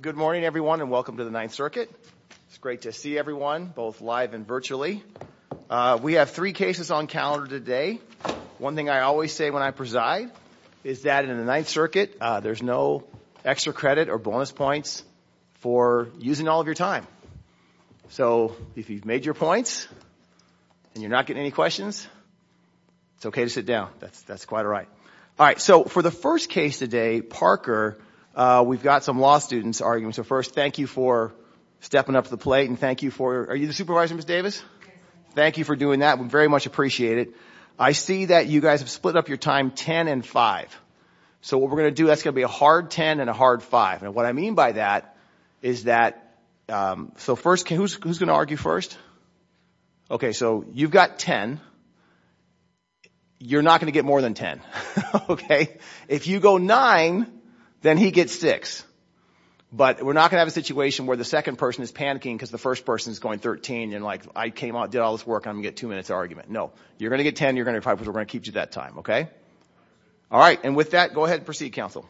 Good morning, everyone, and welcome to the Ninth Circuit. It's great to see everyone, both live and virtually. We have three cases on calendar today. One thing I always say when I preside is that in the Ninth Circuit, there's no extra credit or bonus points for using all of your time. So if you've made your points and you're not getting any questions, it's okay to sit down. That's quite all right. All right, so for the first case today, Parker, we've got some law students arguing. So first, thank you for stepping up to the plate and thank you for – are you the supervisor, Ms. Davis? Thank you for doing that. We very much appreciate it. I see that you guys have split up your time 10 and 5. So what we're going to do, that's going to be a hard 10 and a hard 5. And what I mean by that is that – so first, who's going to argue first? Okay, so you've got 10. You're not going to get more than 10, okay? If you go 9, then he gets 6. But we're not going to have a situation where the second person is panicking because the first person is going 13 and, like, I came out, did all this work, and I'm going to get two minutes of argument. No, you're going to get 10, you're going to get 5 because we're going to keep you that time, okay? All right, and with that, go ahead and proceed, counsel.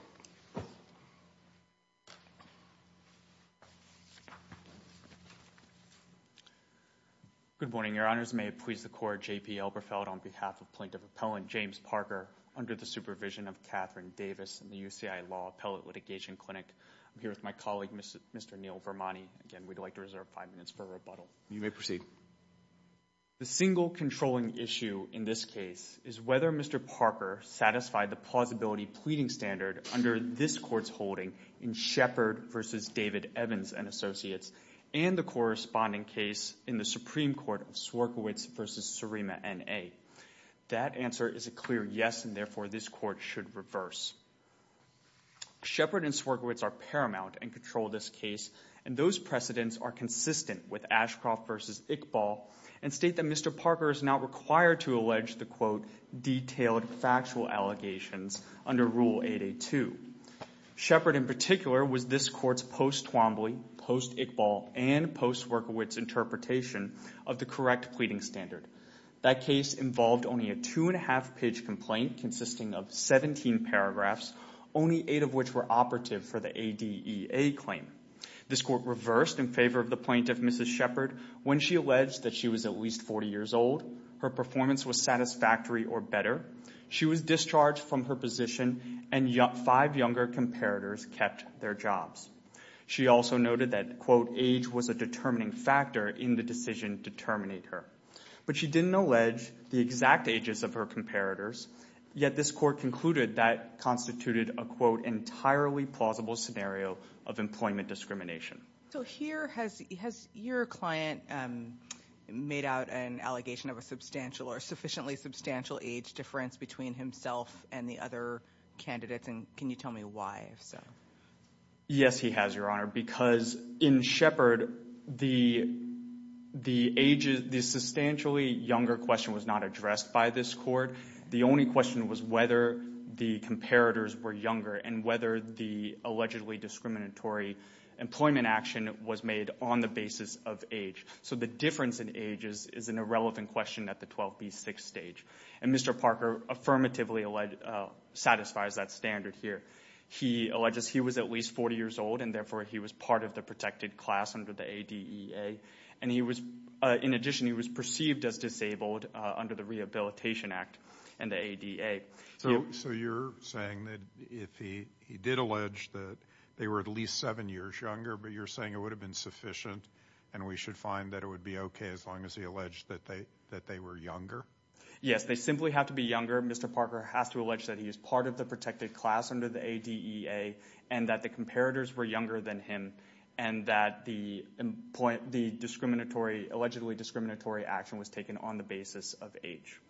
Good morning. Your Honors, may it please the Court, J.P. Elberfeld on behalf of Plaintiff Appellant James Parker under the supervision of Katherine Davis in the UCI Law Appellate Litigation Clinic. I'm here with my colleague, Mr. Neil Vermonti. Again, we'd like to reserve 5 minutes for rebuttal. You may proceed. The single controlling issue in this case is whether Mr. Parker satisfied the plausibility pleading standard under this Court's holding in Shepard v. David Evans and Associates and the corresponding case in the Supreme Court of Swierkiewicz v. Surima N.A. That answer is a clear yes, and therefore this Court should reverse. Shepard and Swierkiewicz are paramount and control this case, and those precedents are consistent with Ashcroft v. Iqbal and state that Mr. Parker is not required to allege the, quote, detailed factual allegations under Rule 882. Shepard in particular was this Court's post-Twombly, post-Iqbal, and post-Swierkiewicz interpretation of the correct pleading standard. That case involved only a two-and-a-half-page complaint consisting of 17 paragraphs, only eight of which were operative for the ADEA claim. This Court reversed in favor of the plaintiff, Mrs. Shepard, when she alleged that she was at least 40 years old, her performance was satisfactory or better, she was discharged from her position, and five younger comparators kept their jobs. She also noted that, quote, age was a determining factor in the decision to terminate her. But she didn't allege the exact ages of her comparators, yet this Court concluded that constituted a, quote, entirely plausible scenario of employment discrimination. So here has your client made out an allegation of a substantial or sufficiently substantial age difference between himself and the other candidates, and can you tell me why? Yes, he has, Your Honor, because in Shepard, the substantially younger question was not addressed by this Court. The only question was whether the comparators were younger and whether the allegedly discriminatory employment action was made on the basis of age. So the difference in ages is an irrelevant question at the 12B6 stage. And Mr. Parker affirmatively satisfies that standard here. He alleges he was at least 40 years old, and therefore he was part of the protected class under the ADEA. And he was, in addition, he was perceived as disabled under the Rehabilitation Act and the ADA. So you're saying that if he did allege that they were at least seven years younger, but you're saying it would have been sufficient and we should find that it would be okay as long as he alleged that they were younger? Yes, they simply have to be younger. Mr. Parker has to allege that he is part of the protected class under the ADEA and that the comparators were younger than him and that the discriminatory, allegedly discriminatory action was taken on the basis of age.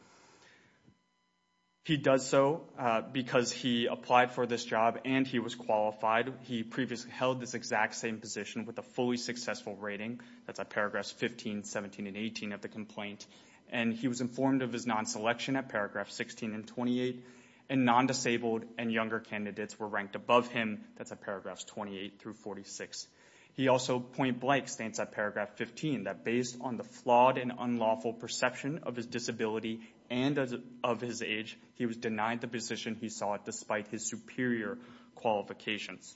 He does so because he applied for this job and he was qualified. He previously held this exact same position with a fully successful rating. That's at paragraphs 15, 17, and 18 of the complaint. And he was informed of his non-selection at paragraph 16 and 28. And non-disabled and younger candidates were ranked above him. That's at paragraphs 28 through 46. He also point blank states at paragraph 15 that based on the flawed and unlawful perception of his disability and of his age, he was denied the position he sought despite his superior qualifications.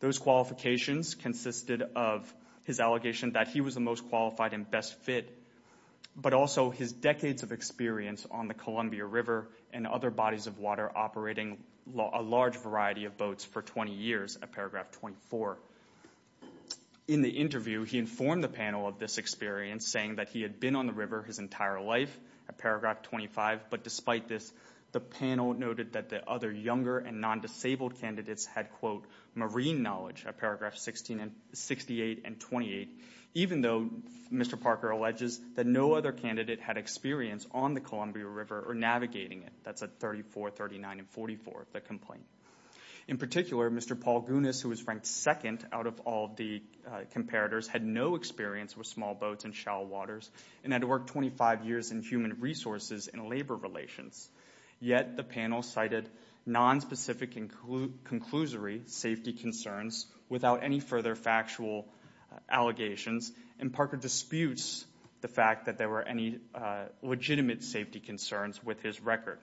Those qualifications consisted of his allegation that he was the most qualified and best fit, but also his decades of experience on the Columbia River and other bodies of water operating a large variety of boats for 20 years at paragraph 24. In the interview, he informed the panel of this experience saying that he had been on the river his entire life at paragraph 25, but despite this, the panel noted that the other younger and non-disabled candidates had, quote, marine knowledge at paragraph 68 and 28, even though Mr. Parker alleges that no other candidate had experience on the Columbia River or navigating it. That's at 34, 39, and 44 of the complaint. In particular, Mr. Paul Gunis, who was ranked second out of all the comparators, had no experience with small boats in shallow waters and had worked 25 years in human resources and labor relations. Yet the panel cited nonspecific and conclusory safety concerns without any further factual allegations, and Parker disputes the fact that there were any legitimate safety concerns with his record.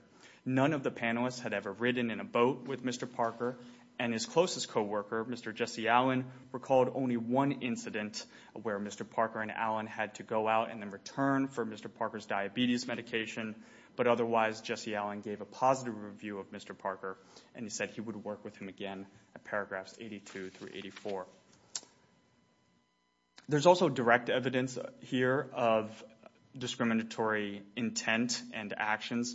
None of the panelists had ever ridden in a boat with Mr. Parker, and his closest coworker, Mr. Jesse Allen, recalled only one incident where Mr. Parker and Allen had to go out and then return for Mr. Parker's diabetes medication, but otherwise Jesse Allen gave a positive review of Mr. Parker and he said he would work with him again at paragraphs 82 through 84. There's also direct evidence here of discriminatory intent and actions.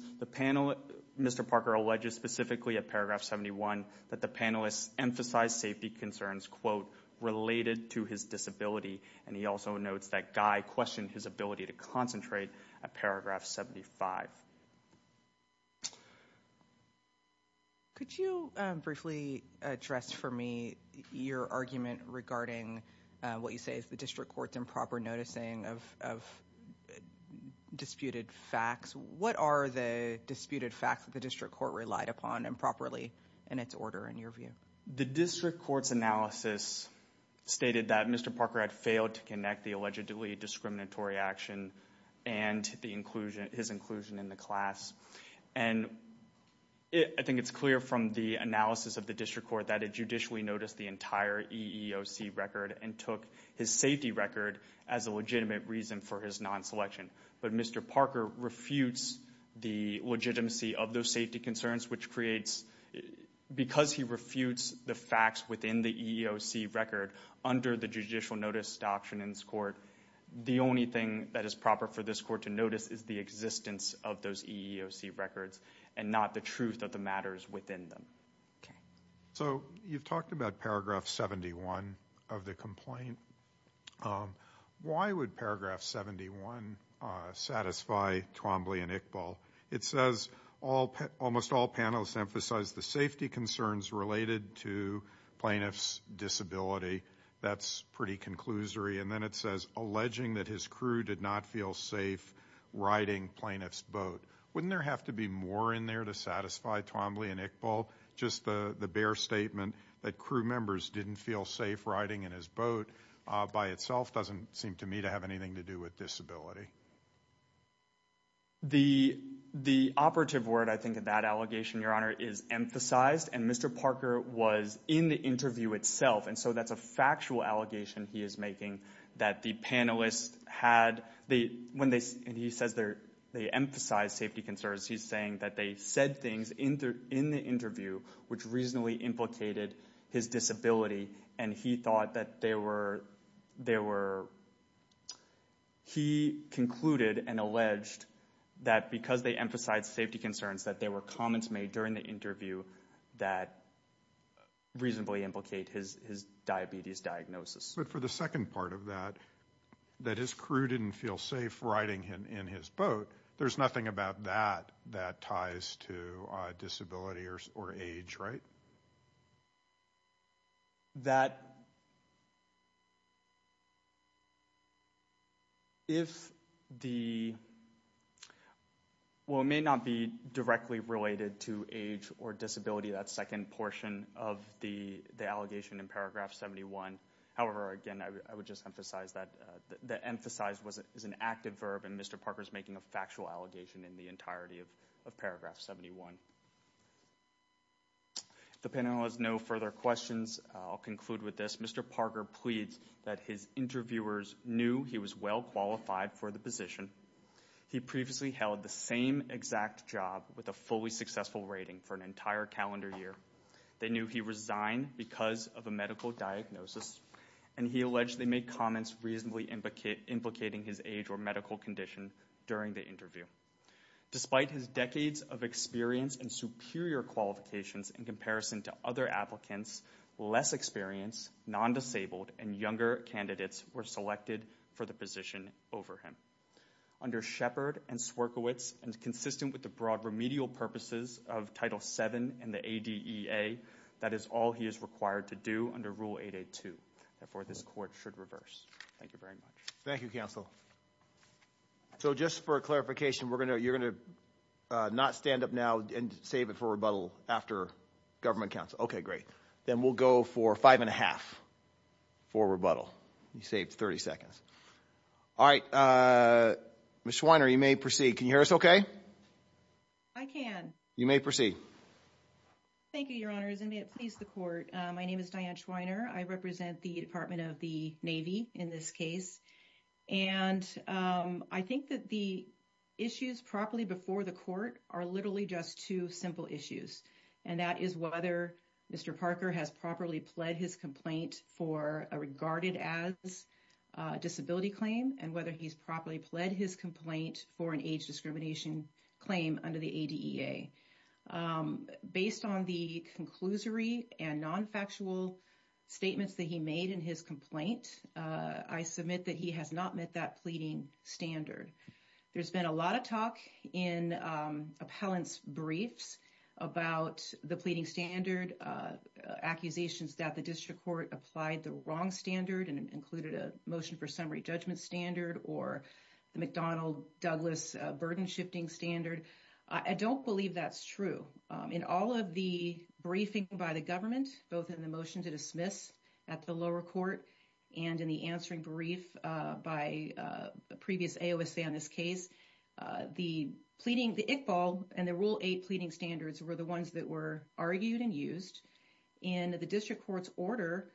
Mr. Parker alleges specifically at paragraph 71 that the panelists emphasized safety concerns, quote, related to his disability, and he also notes that Guy questioned his ability to concentrate at paragraph 75. Could you briefly address for me your argument regarding what you say is the district court's improper noticing of disputed facts? What are the disputed facts that the district court relied upon improperly in its order in your view? The district court's analysis stated that Mr. Parker had failed to connect the allegedly discriminatory action and his inclusion in the class, and I think it's clear from the analysis of the district court that it judicially noticed the entire EEOC record and took his safety record as a legitimate reason for his non-selection, but Mr. Parker refutes the legitimacy of those safety concerns, which creates, because he refutes the facts within the EEOC record under the judicial notice doctrine in this court, the only thing that is proper for this court to notice is the existence of those EEOC records and not the truth of the matters within them. So you've talked about paragraph 71 of the complaint. Why would paragraph 71 satisfy Twombly and Iqbal? It says almost all panelists emphasize the safety concerns related to plaintiff's disability. That's pretty conclusory. And then it says alleging that his crew did not feel safe riding plaintiff's boat. Wouldn't there have to be more in there to satisfy Twombly and Iqbal? Just the bare statement that crew members didn't feel safe riding in his boat by itself doesn't seem to me to have anything to do with disability. The operative word, I think, of that allegation, Your Honor, is emphasized, and Mr. Parker was in the interview itself, and so that's a factual allegation he is making that the panelists had, and he says they emphasized safety concerns. He's saying that they said things in the interview which reasonably implicated his disability, and he thought that they were, he concluded and alleged that because they emphasized safety concerns that there were comments made during the interview that reasonably implicate his diabetes diagnosis. But for the second part of that, that his crew didn't feel safe riding in his boat, there's nothing about that that ties to disability or age, right? That if the, well, it may not be directly related to age or disability, that second portion of the allegation in paragraph 71. However, again, I would just emphasize that emphasized is an active verb, and Mr. Parker's making a factual allegation in the entirety of paragraph 71. The panel has no further questions. I'll conclude with this. Mr. Parker pleads that his interviewers knew he was well qualified for the position. He previously held the same exact job with a fully successful rating for an entire calendar year. They knew he resigned because of a medical diagnosis, and he alleged they made comments reasonably implicating his age or medical condition during the interview. Despite his decades of experience and superior qualifications in comparison to other applicants, less experienced, non-disabled, and younger candidates were selected for the position over him. Under Shepard and Swierkiewicz, and consistent with the broad remedial purposes of Title VII and the ADEA, that is all he is required to do under Rule 882. Therefore, this court should reverse. Thank you very much. Thank you, counsel. So just for clarification, you're going to not stand up now and save it for rebuttal after government counsel. OK, great. Then we'll go for five and a half for rebuttal. You saved 30 seconds. All right. Ms. Schweiner, you may proceed. Can you hear us OK? I can. You may proceed. Thank you, Your Honors, and may it please the court. My name is Diane Schweiner. I represent the Department of the Navy in this case. And I think that the issues properly before the court are literally just two simple issues. And that is whether Mr. Parker has properly pled his complaint for a regarded as disability claim, and whether he's properly pled his complaint for an age discrimination claim under the ADEA. Based on the conclusory and non-factual statements that he made in his complaint, I submit that he has not met that pleading standard. There's been a lot of talk in appellants briefs about the pleading standard accusations that the district court applied the wrong standard and included a motion for summary judgment standard or the McDonnell Douglas burden shifting standard. I don't believe that's true in all of the briefing by the government, both in the motion to dismiss at the lower court and in the answering brief by the previous AOSA on this case. The pleading, the Iqbal and the Rule 8 pleading standards were the ones that were argued and used. In the district court's order,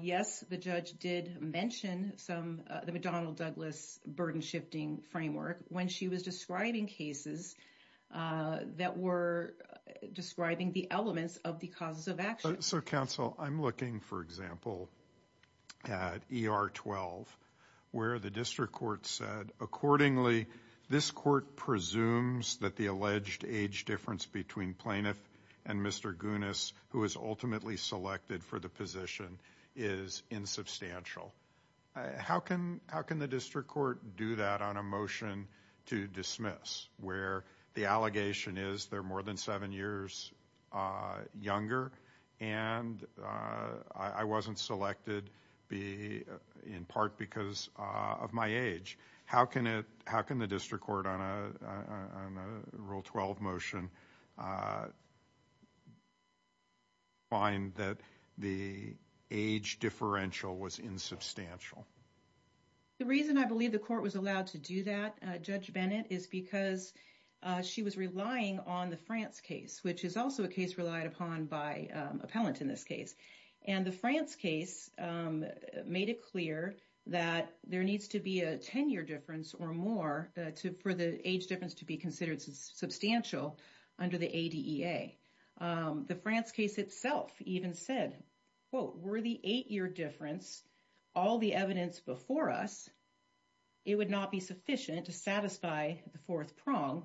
yes, the judge did mention some of the McDonnell Douglas burden shifting framework when she was describing cases that were describing the elements of the causes of action. So, counsel, I'm looking, for example, at ER 12, where the district court said, accordingly, this court presumes that the alleged age difference between plaintiff and Mr. Gunis, who is ultimately selected for the position, is insubstantial. How can how can the district court do that on a motion to dismiss where the allegation is there more than seven years younger and I wasn't selected in part because of my age? How can it how can the district court on a Rule 12 motion find that the age differential was insubstantial? The reason I believe the court was allowed to do that, Judge Bennett, is because she was relying on the France case, which is also a case relied upon by appellant in this case. And the France case made it clear that there needs to be a 10 year difference or more for the age difference to be considered substantial under the ADA. The France case itself even said, quote, were the eight year difference all the evidence before us, it would not be sufficient to satisfy the fourth prong.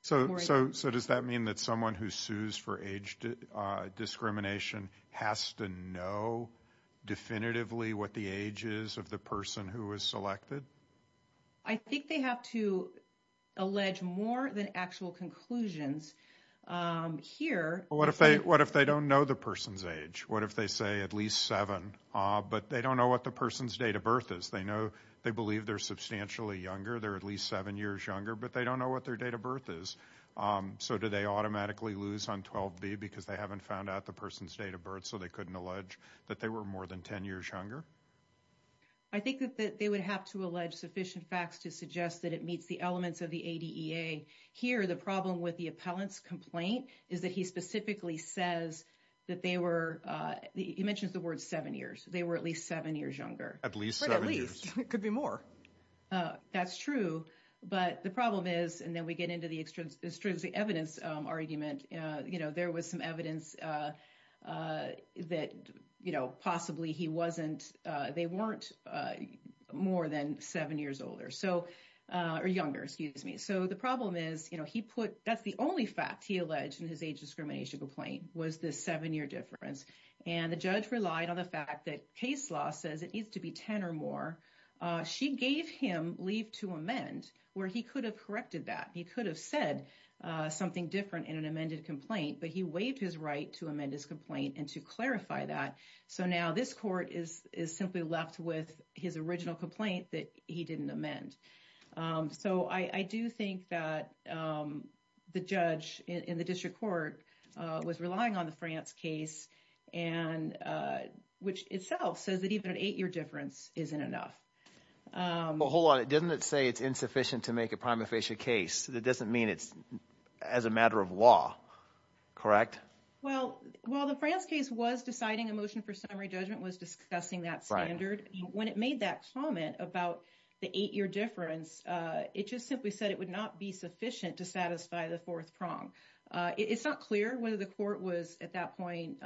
So so so does that mean that someone who sues for age discrimination has to know definitively what the age is of the person who is selected? I think they have to allege more than actual conclusions here. What if they what if they don't know the person's age? What if they say at least seven? But they don't know what the person's date of birth is. They know they believe they're substantially younger. They're at least seven years younger, but they don't know what their date of birth is. So do they automatically lose on 12? Because they haven't found out the person's date of birth. So they couldn't allege that they were more than 10 years younger. I think that they would have to allege sufficient facts to suggest that it meets the elements of the ADA. Here, the problem with the appellant's complaint is that he specifically says that they were. He mentions the word seven years. They were at least seven years younger, at least. It could be more. That's true. But the problem is and then we get into the extrinsic evidence argument. You know, there was some evidence that, you know, possibly he wasn't they weren't more than seven years older. So or younger, excuse me. So the problem is, you know, he put that's the only fact he alleged in his age discrimination complaint was the seven year difference. And the judge relied on the fact that case law says it needs to be 10 or more. She gave him leave to amend where he could have corrected that. He could have said something different in an amended complaint, but he waived his right to amend his complaint and to clarify that. So now this court is is simply left with his original complaint that he didn't amend. So I do think that the judge in the district court was relying on the France case and which itself says that even an eight year difference isn't enough. Hold on. It doesn't say it's insufficient to make a prima facie case. That doesn't mean it's as a matter of law. Correct. Well, while the France case was deciding a motion for summary judgment, was discussing that standard when it made that comment about the eight year difference. It just simply said it would not be sufficient to satisfy the fourth prong. It's not clear whether the court was at that point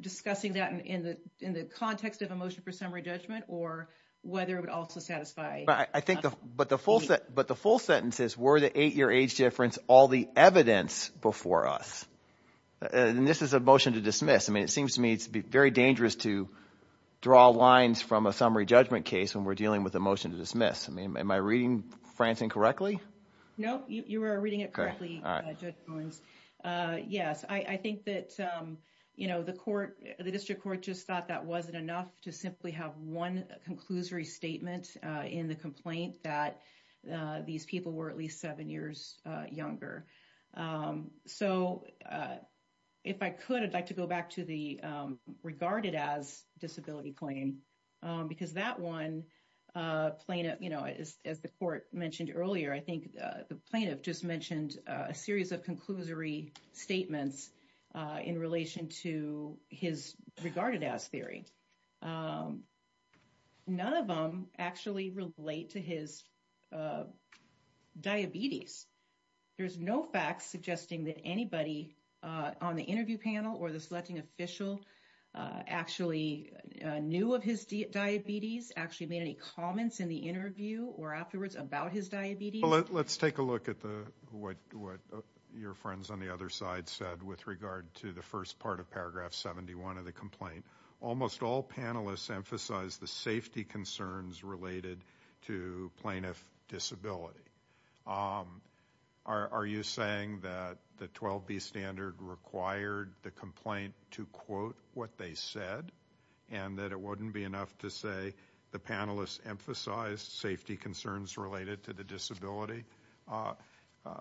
discussing that in the in the context of a motion for summary judgment or whether it would also satisfy. I think. But the full set. But the full sentences were the eight year age difference. All the evidence before us. And this is a motion to dismiss. I mean, it seems to me it's very dangerous to draw lines from a summary judgment case when we're dealing with a motion to dismiss. I mean, am I reading France incorrectly? No, you are reading it correctly. Yes, I think that, you know, the court, the district court just thought that wasn't enough to simply have one conclusory statement in the complaint that these people were at least seven years younger. So if I could, I'd like to go back to the regarded as disability claim, because that one plaintiff, you know, as the court mentioned earlier, I think the plaintiff just mentioned a series of conclusory statements in relation to his regarded as theory. None of them actually relate to his diabetes. There's no facts suggesting that anybody on the interview panel or the selecting official actually knew of his diabetes, actually made any comments in the interview or afterwards about his diabetes. Well, let's take a look at what your friends on the other side said with regard to the first part of paragraph 71 of the complaint. Almost all panelists emphasize the safety concerns related to plaintiff disability. Are you saying that the 12B standard required the complaint to quote what they said and that it wouldn't be enough to say the panelists emphasized safety concerns related to the disability?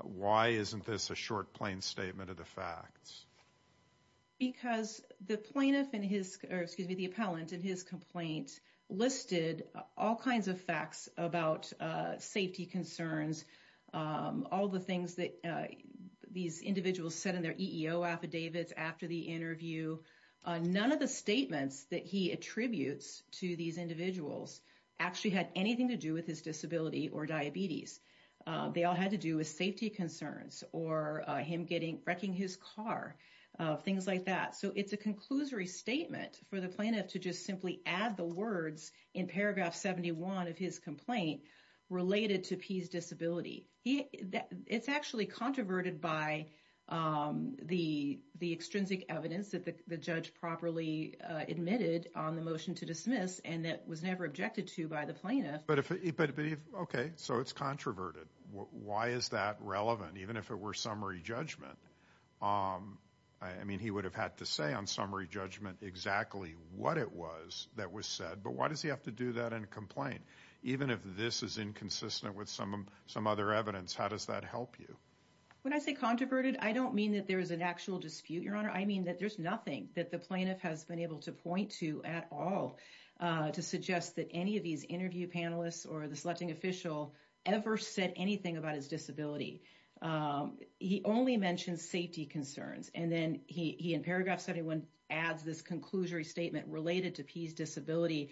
Why isn't this a short plain statement of the facts? Because the plaintiff and his, or excuse me, the appellant and his complaint listed all kinds of facts about safety concerns, all the things that these individuals said in their EEO affidavits after the interview. None of the statements that he attributes to these individuals actually had anything to do with his disability or diabetes. They all had to do with safety concerns or him getting, wrecking his car, things like that. So it's a conclusory statement for the plaintiff to just simply add the words in paragraph 71 of his complaint related to P's disability. It's actually controverted by the extrinsic evidence that the judge properly admitted on the motion to dismiss and that was never objected to by the plaintiff. But if, okay, so it's controverted. Why is that relevant, even if it were summary judgment? I mean, he would have had to say on summary judgment exactly what it was that was said, but why does he have to do that in a complaint? Even if this is inconsistent with some other evidence, how does that help you? When I say controverted, I don't mean that there's an actual dispute, Your Honor. I mean that there's nothing that the plaintiff has been able to point to at all to suggest that any of these interview panelists or the selecting official ever said anything about his disability. He only mentioned safety concerns, and then he, in paragraph 71, adds this conclusory statement related to P's disability.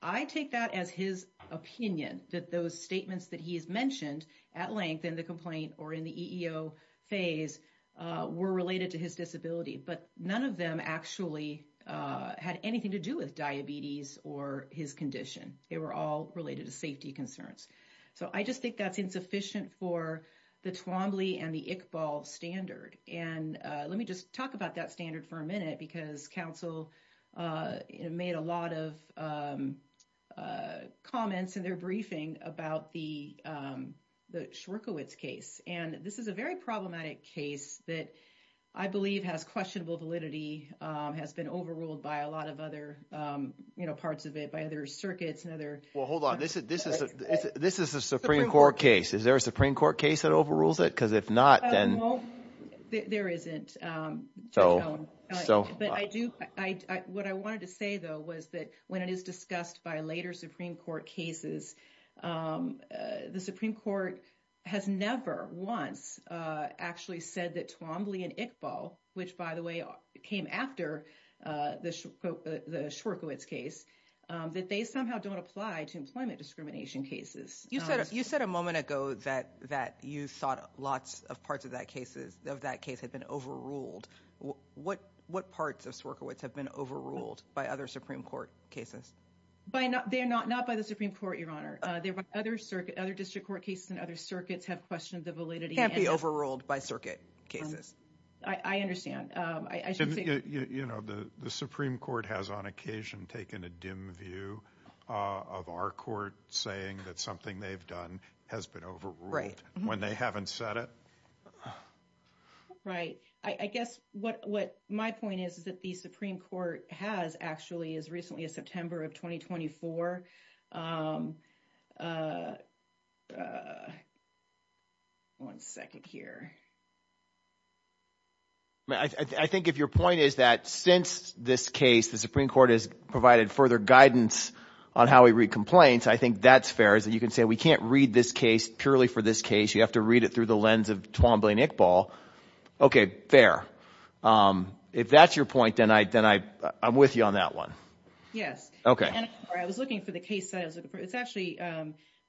I take that as his opinion that those statements that he has mentioned at length in the complaint or in the EEO phase were related to his disability, but none of them actually had anything to do with diabetes or his condition. They were all related to safety concerns. So I just think that's insufficient for the Twombly and the Iqbal standard. And let me just talk about that standard for a minute because counsel made a lot of comments in their briefing about the Schwerkowitz case. And this is a very problematic case that I believe has questionable validity, has been overruled by a lot of other parts of it, by other circuits and other – Well, hold on. This is a Supreme Court case. Is there a Supreme Court case that overrules it? Because if not, then – No, there isn't. So – But I do – what I wanted to say, though, was that when it is discussed by later Supreme Court cases, the Supreme Court has never once actually said that Twombly and Iqbal, which, by the way, came after the Schwerkowitz case, that they somehow don't apply to employment discrimination cases. You said a moment ago that you thought lots of parts of that case had been overruled. What parts of Schwerkowitz have been overruled by other Supreme Court cases? They're not by the Supreme Court, Your Honor. They're by other district court cases and other circuits have questioned the validity and – Can't be overruled by circuit cases. I understand. I should say – The Supreme Court has on occasion taken a dim view of our court saying that something they've done has been overruled. When they haven't said it. Right. I guess what my point is is that the Supreme Court has actually as recently as September of 2024 – one second here. I think if your point is that since this case the Supreme Court has provided further guidance on how we read complaints, I think that's fair. You can say we can't read this case purely for this case. You have to read it through the lens of Twombly and Iqbal. Okay, fair. If that's your point, then I'm with you on that one. Yes. Okay. I was looking for the case – it's actually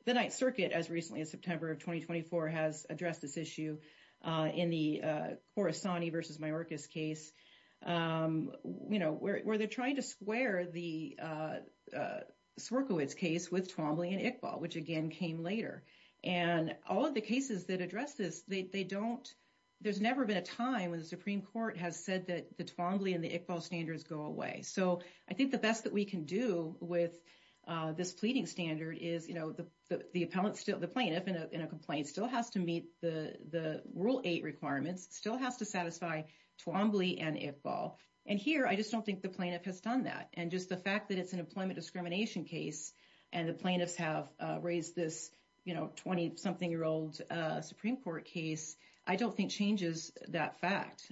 the Ninth Circuit as recently as September of 2024 has addressed this issue in the Khorasani v. Mayorkas case. You know, where they're trying to square the Swerkowitz case with Twombly and Iqbal, which again came later. And all of the cases that address this, they don't – there's never been a time when the Supreme Court has said that the Twombly and the Iqbal standards go away. So I think the best that we can do with this pleading standard is, you know, the plaintiff in a complaint still has to meet the Rule 8 requirements, still has to satisfy Twombly and Iqbal. And here, I just don't think the plaintiff has done that. And just the fact that it's an employment discrimination case and the plaintiffs have raised this, you know, 20-something-year-old Supreme Court case, I don't think changes that fact.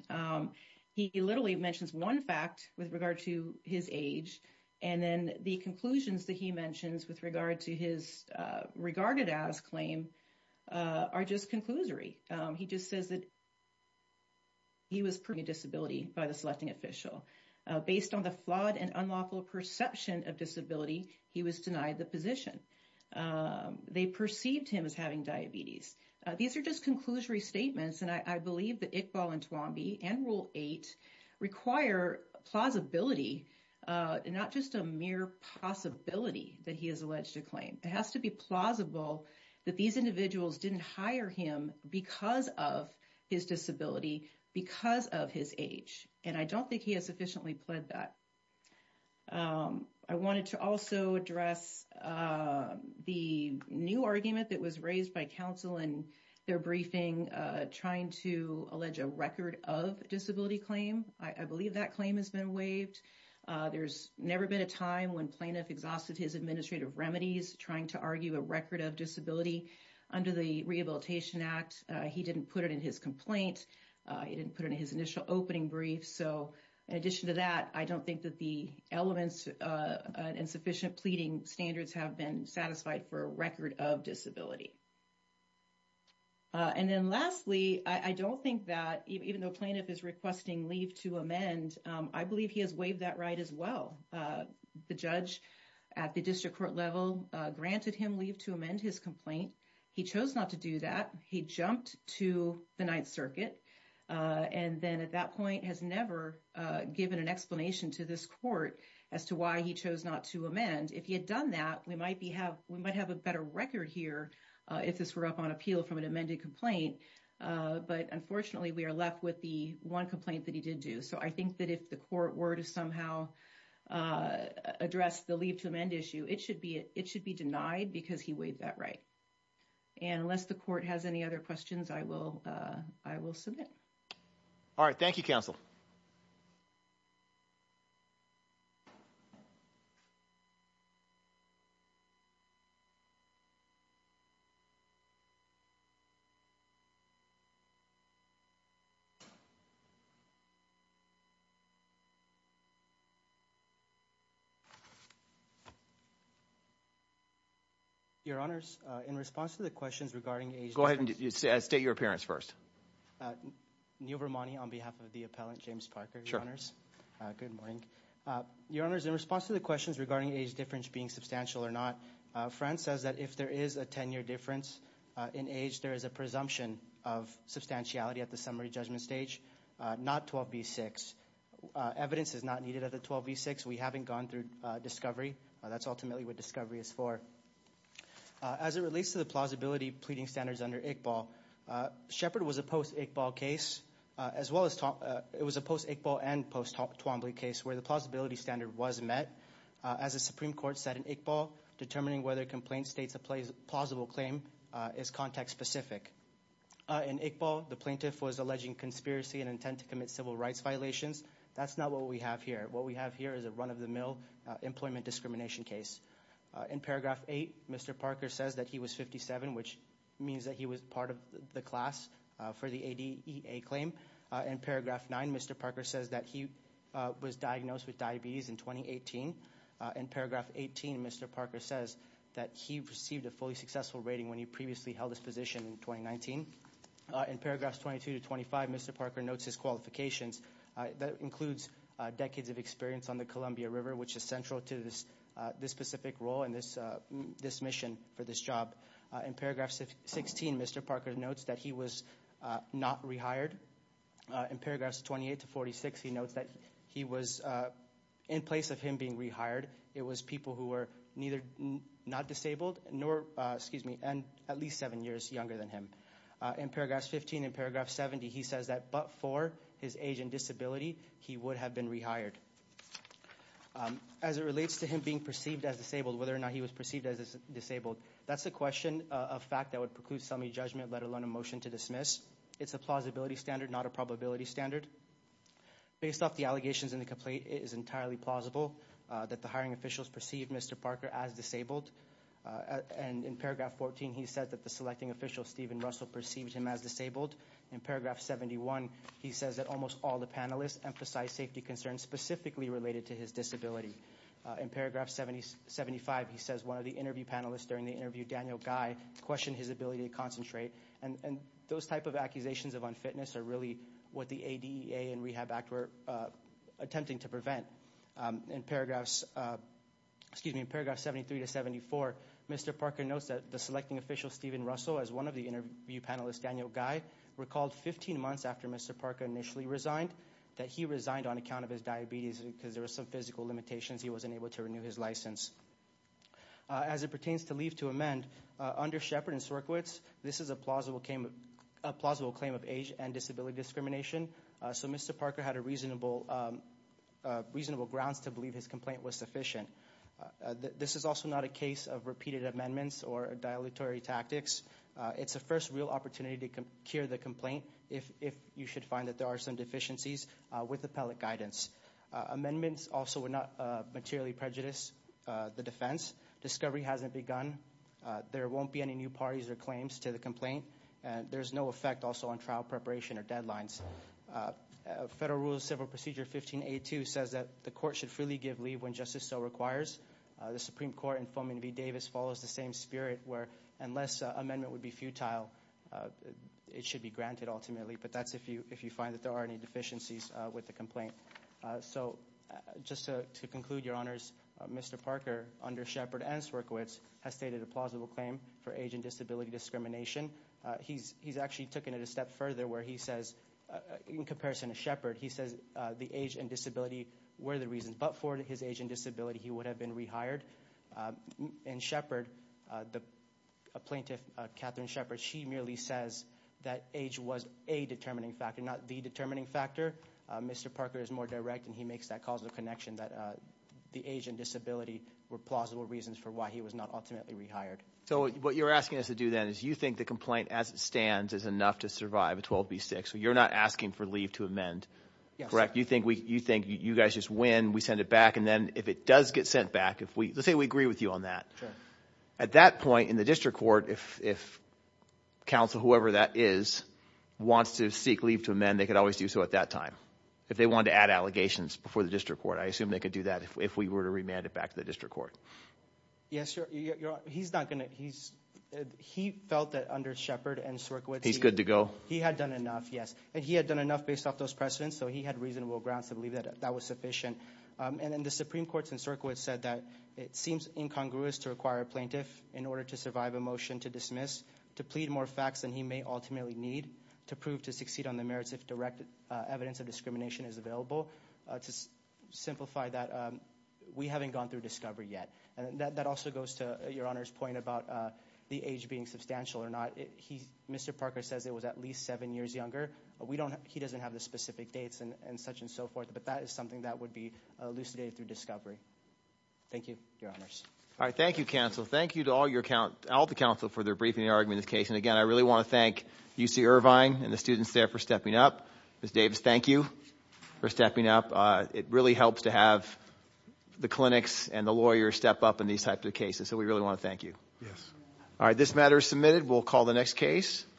He literally mentions one fact with regard to his age and then the conclusions that he mentions with regard to his regarded-as claim are just conclusory. He just says that he was proving a disability by the selecting official. Based on the flawed and unlawful perception of disability, he was denied the position. They perceived him as having diabetes. These are just conclusory statements, and I believe that Iqbal and Twombly and Rule 8 require plausibility and not just a mere possibility that he has alleged a claim. It has to be plausible that these individuals didn't hire him because of his disability, because of his age. And I don't think he has sufficiently pled that. I wanted to also address the new argument that was raised by counsel in their briefing trying to allege a record of disability claim. I believe that claim has been waived. There's never been a time when plaintiff exhausted his administrative remedies trying to argue a record of disability under the Rehabilitation Act. He didn't put it in his complaint. He didn't put it in his initial opening brief. So in addition to that, I don't think that the elements and sufficient pleading standards have been satisfied for a record of disability. And then lastly, I don't think that even though plaintiff is requesting leave to amend, I believe he has waived that right as well. The judge at the district court level granted him leave to amend his complaint. He chose not to do that. He jumped to the Ninth Circuit. And then at that point has never given an explanation to this court as to why he chose not to amend. If he had done that, we might have a better record here if this were up on appeal from an amended complaint. But unfortunately, we are left with the one complaint that he did do. So I think that if the court were to somehow address the leave to amend issue, it should be denied because he waived that right. And unless the court has any other questions, I will I will submit. All right. Thank you, counsel. Thank you. Your honors, in response to the questions regarding a go ahead and state your appearance first. New Vermont on behalf of the appellant, James Parker. Good morning. Your honors, in response to the questions regarding age difference being substantial or not, France says that if there is a 10 year difference in age, there is a presumption of substantiality at the summary judgment stage. Not 12B6. Evidence is not needed at the 12B6. We haven't gone through discovery. That's ultimately what discovery is for. As it relates to the plausibility of pleading standards under Iqbal, Shepard was a post Iqbal case as well as it was a post Iqbal and post Twombly case where the plausibility standard was met. As the Supreme Court said in Iqbal, determining whether a complaint states a plausible claim is context specific. In Iqbal, the plaintiff was alleging conspiracy and intent to commit civil rights violations. That's not what we have here. What we have here is a run of the mill employment discrimination case. In paragraph eight, Mr. Parker says that he was 57, which means that he was part of the class for the ADEA claim. In paragraph nine, Mr. Parker says that he was diagnosed with diabetes in 2018. In paragraph 18, Mr. Parker says that he received a fully successful rating when he previously held his position in 2019. In paragraphs 22 to 25, Mr. Parker notes his qualifications. That includes decades of experience on the Columbia River, which is central to this specific role and this mission for this job. In paragraph 16, Mr. Parker notes that he was not rehired. In paragraphs 28 to 46, he notes that he was in place of him being rehired. It was people who were neither not disabled nor, excuse me, at least seven years younger than him. In paragraphs 15 and paragraph 70, he says that but for his age and disability, he would have been rehired. As it relates to him being perceived as disabled, whether or not he was perceived as disabled, that's a question of fact that would preclude some judgment, let alone a motion to dismiss. It's a plausibility standard, not a probability standard. Based off the allegations in the complaint, it is entirely plausible that the hiring officials perceived Mr. Parker as disabled. And in paragraph 14, he said that the selecting official, Stephen Russell, perceived him as disabled. In paragraph 71, he says that almost all the panelists emphasize safety concerns specifically related to his disability. In paragraph 75, he says one of the interview panelists during the interview, Daniel Guy, questioned his ability to concentrate. And those type of accusations of unfitness are really what the ADEA and Rehab Act were attempting to prevent. In paragraphs, excuse me, in paragraph 73 to 74, Mr. Parker notes that the selecting official, Stephen Russell, as one of the interview panelists, Daniel Guy, recalled 15 months after Mr. Parker initially resigned, that he resigned on account of his diabetes because there were some physical limitations. He wasn't able to renew his license. As it pertains to leave to amend, under Shepard and Sorkowitz, this is a plausible claim of age and disability discrimination. So Mr. Parker had a reasonable grounds to believe his complaint was sufficient. This is also not a case of repeated amendments or dilatory tactics. It's a first real opportunity to cure the complaint if you should find that there are some deficiencies with appellate guidance. Amendments also would not materially prejudice the defense. Discovery hasn't begun. There won't be any new parties or claims to the complaint. There's no effect also on trial preparation or deadlines. Federal Rules Civil Procedure 15A2 says that the court should freely give leave when justice so requires. The Supreme Court in Fulming v. Davis follows the same spirit where unless amendment would be futile, it should be granted ultimately. But that's if you find that there are any deficiencies with the complaint. So just to conclude, Your Honors, Mr. Parker, under Shepard and Sorkowitz, has stated a plausible claim for age and disability discrimination. He's actually taken it a step further where he says, in comparison to Shepard, he says the age and disability were the reason. But for his age and disability, he would have been rehired. And Shepard, the plaintiff, Catherine Shepard, she merely says that age was a determining factor, not the determining factor. Mr. Parker is more direct, and he makes that causal connection that the age and disability were plausible reasons for why he was not ultimately rehired. So what you're asking us to do then is you think the complaint as it stands is enough to survive a 12B6. So you're not asking for leave to amend, correct? You think you guys just win, we send it back, and then if it does get sent back, let's say we agree with you on that. At that point in the district court, if counsel, whoever that is, wants to seek leave to amend, they could always do so at that time. If they wanted to add allegations before the district court, I assume they could do that if we were to remand it back to the district court. Yes, Your Honor, he's not going to – he felt that under Shepard and Sorkowitz – He's good to go? He had done enough, yes. And he had done enough based off those precedents, so he had reasonable grounds to believe that that was sufficient. And then the Supreme Court in Sorkowitz said that it seems incongruous to require a plaintiff in order to survive a motion to dismiss to plead more facts than he may ultimately need to prove to succeed on the merits if direct evidence of discrimination is available. To simplify that, we haven't gone through discovery yet. That also goes to Your Honor's point about the age being substantial or not. Mr. Parker says it was at least seven years younger. He doesn't have the specific dates and such and so forth, but that is something that would be elucidated through discovery. Thank you, Your Honors. All right, thank you, counsel. Thank you to all the counsel for their briefing and argument in this case. And again, I really want to thank UC Irvine and the students there for stepping up. Ms. Davis, thank you for stepping up. It really helps to have the clinics and the lawyers step up in these types of cases, so we really want to thank you. Yes. All right, this matter is submitted. We'll call the next case.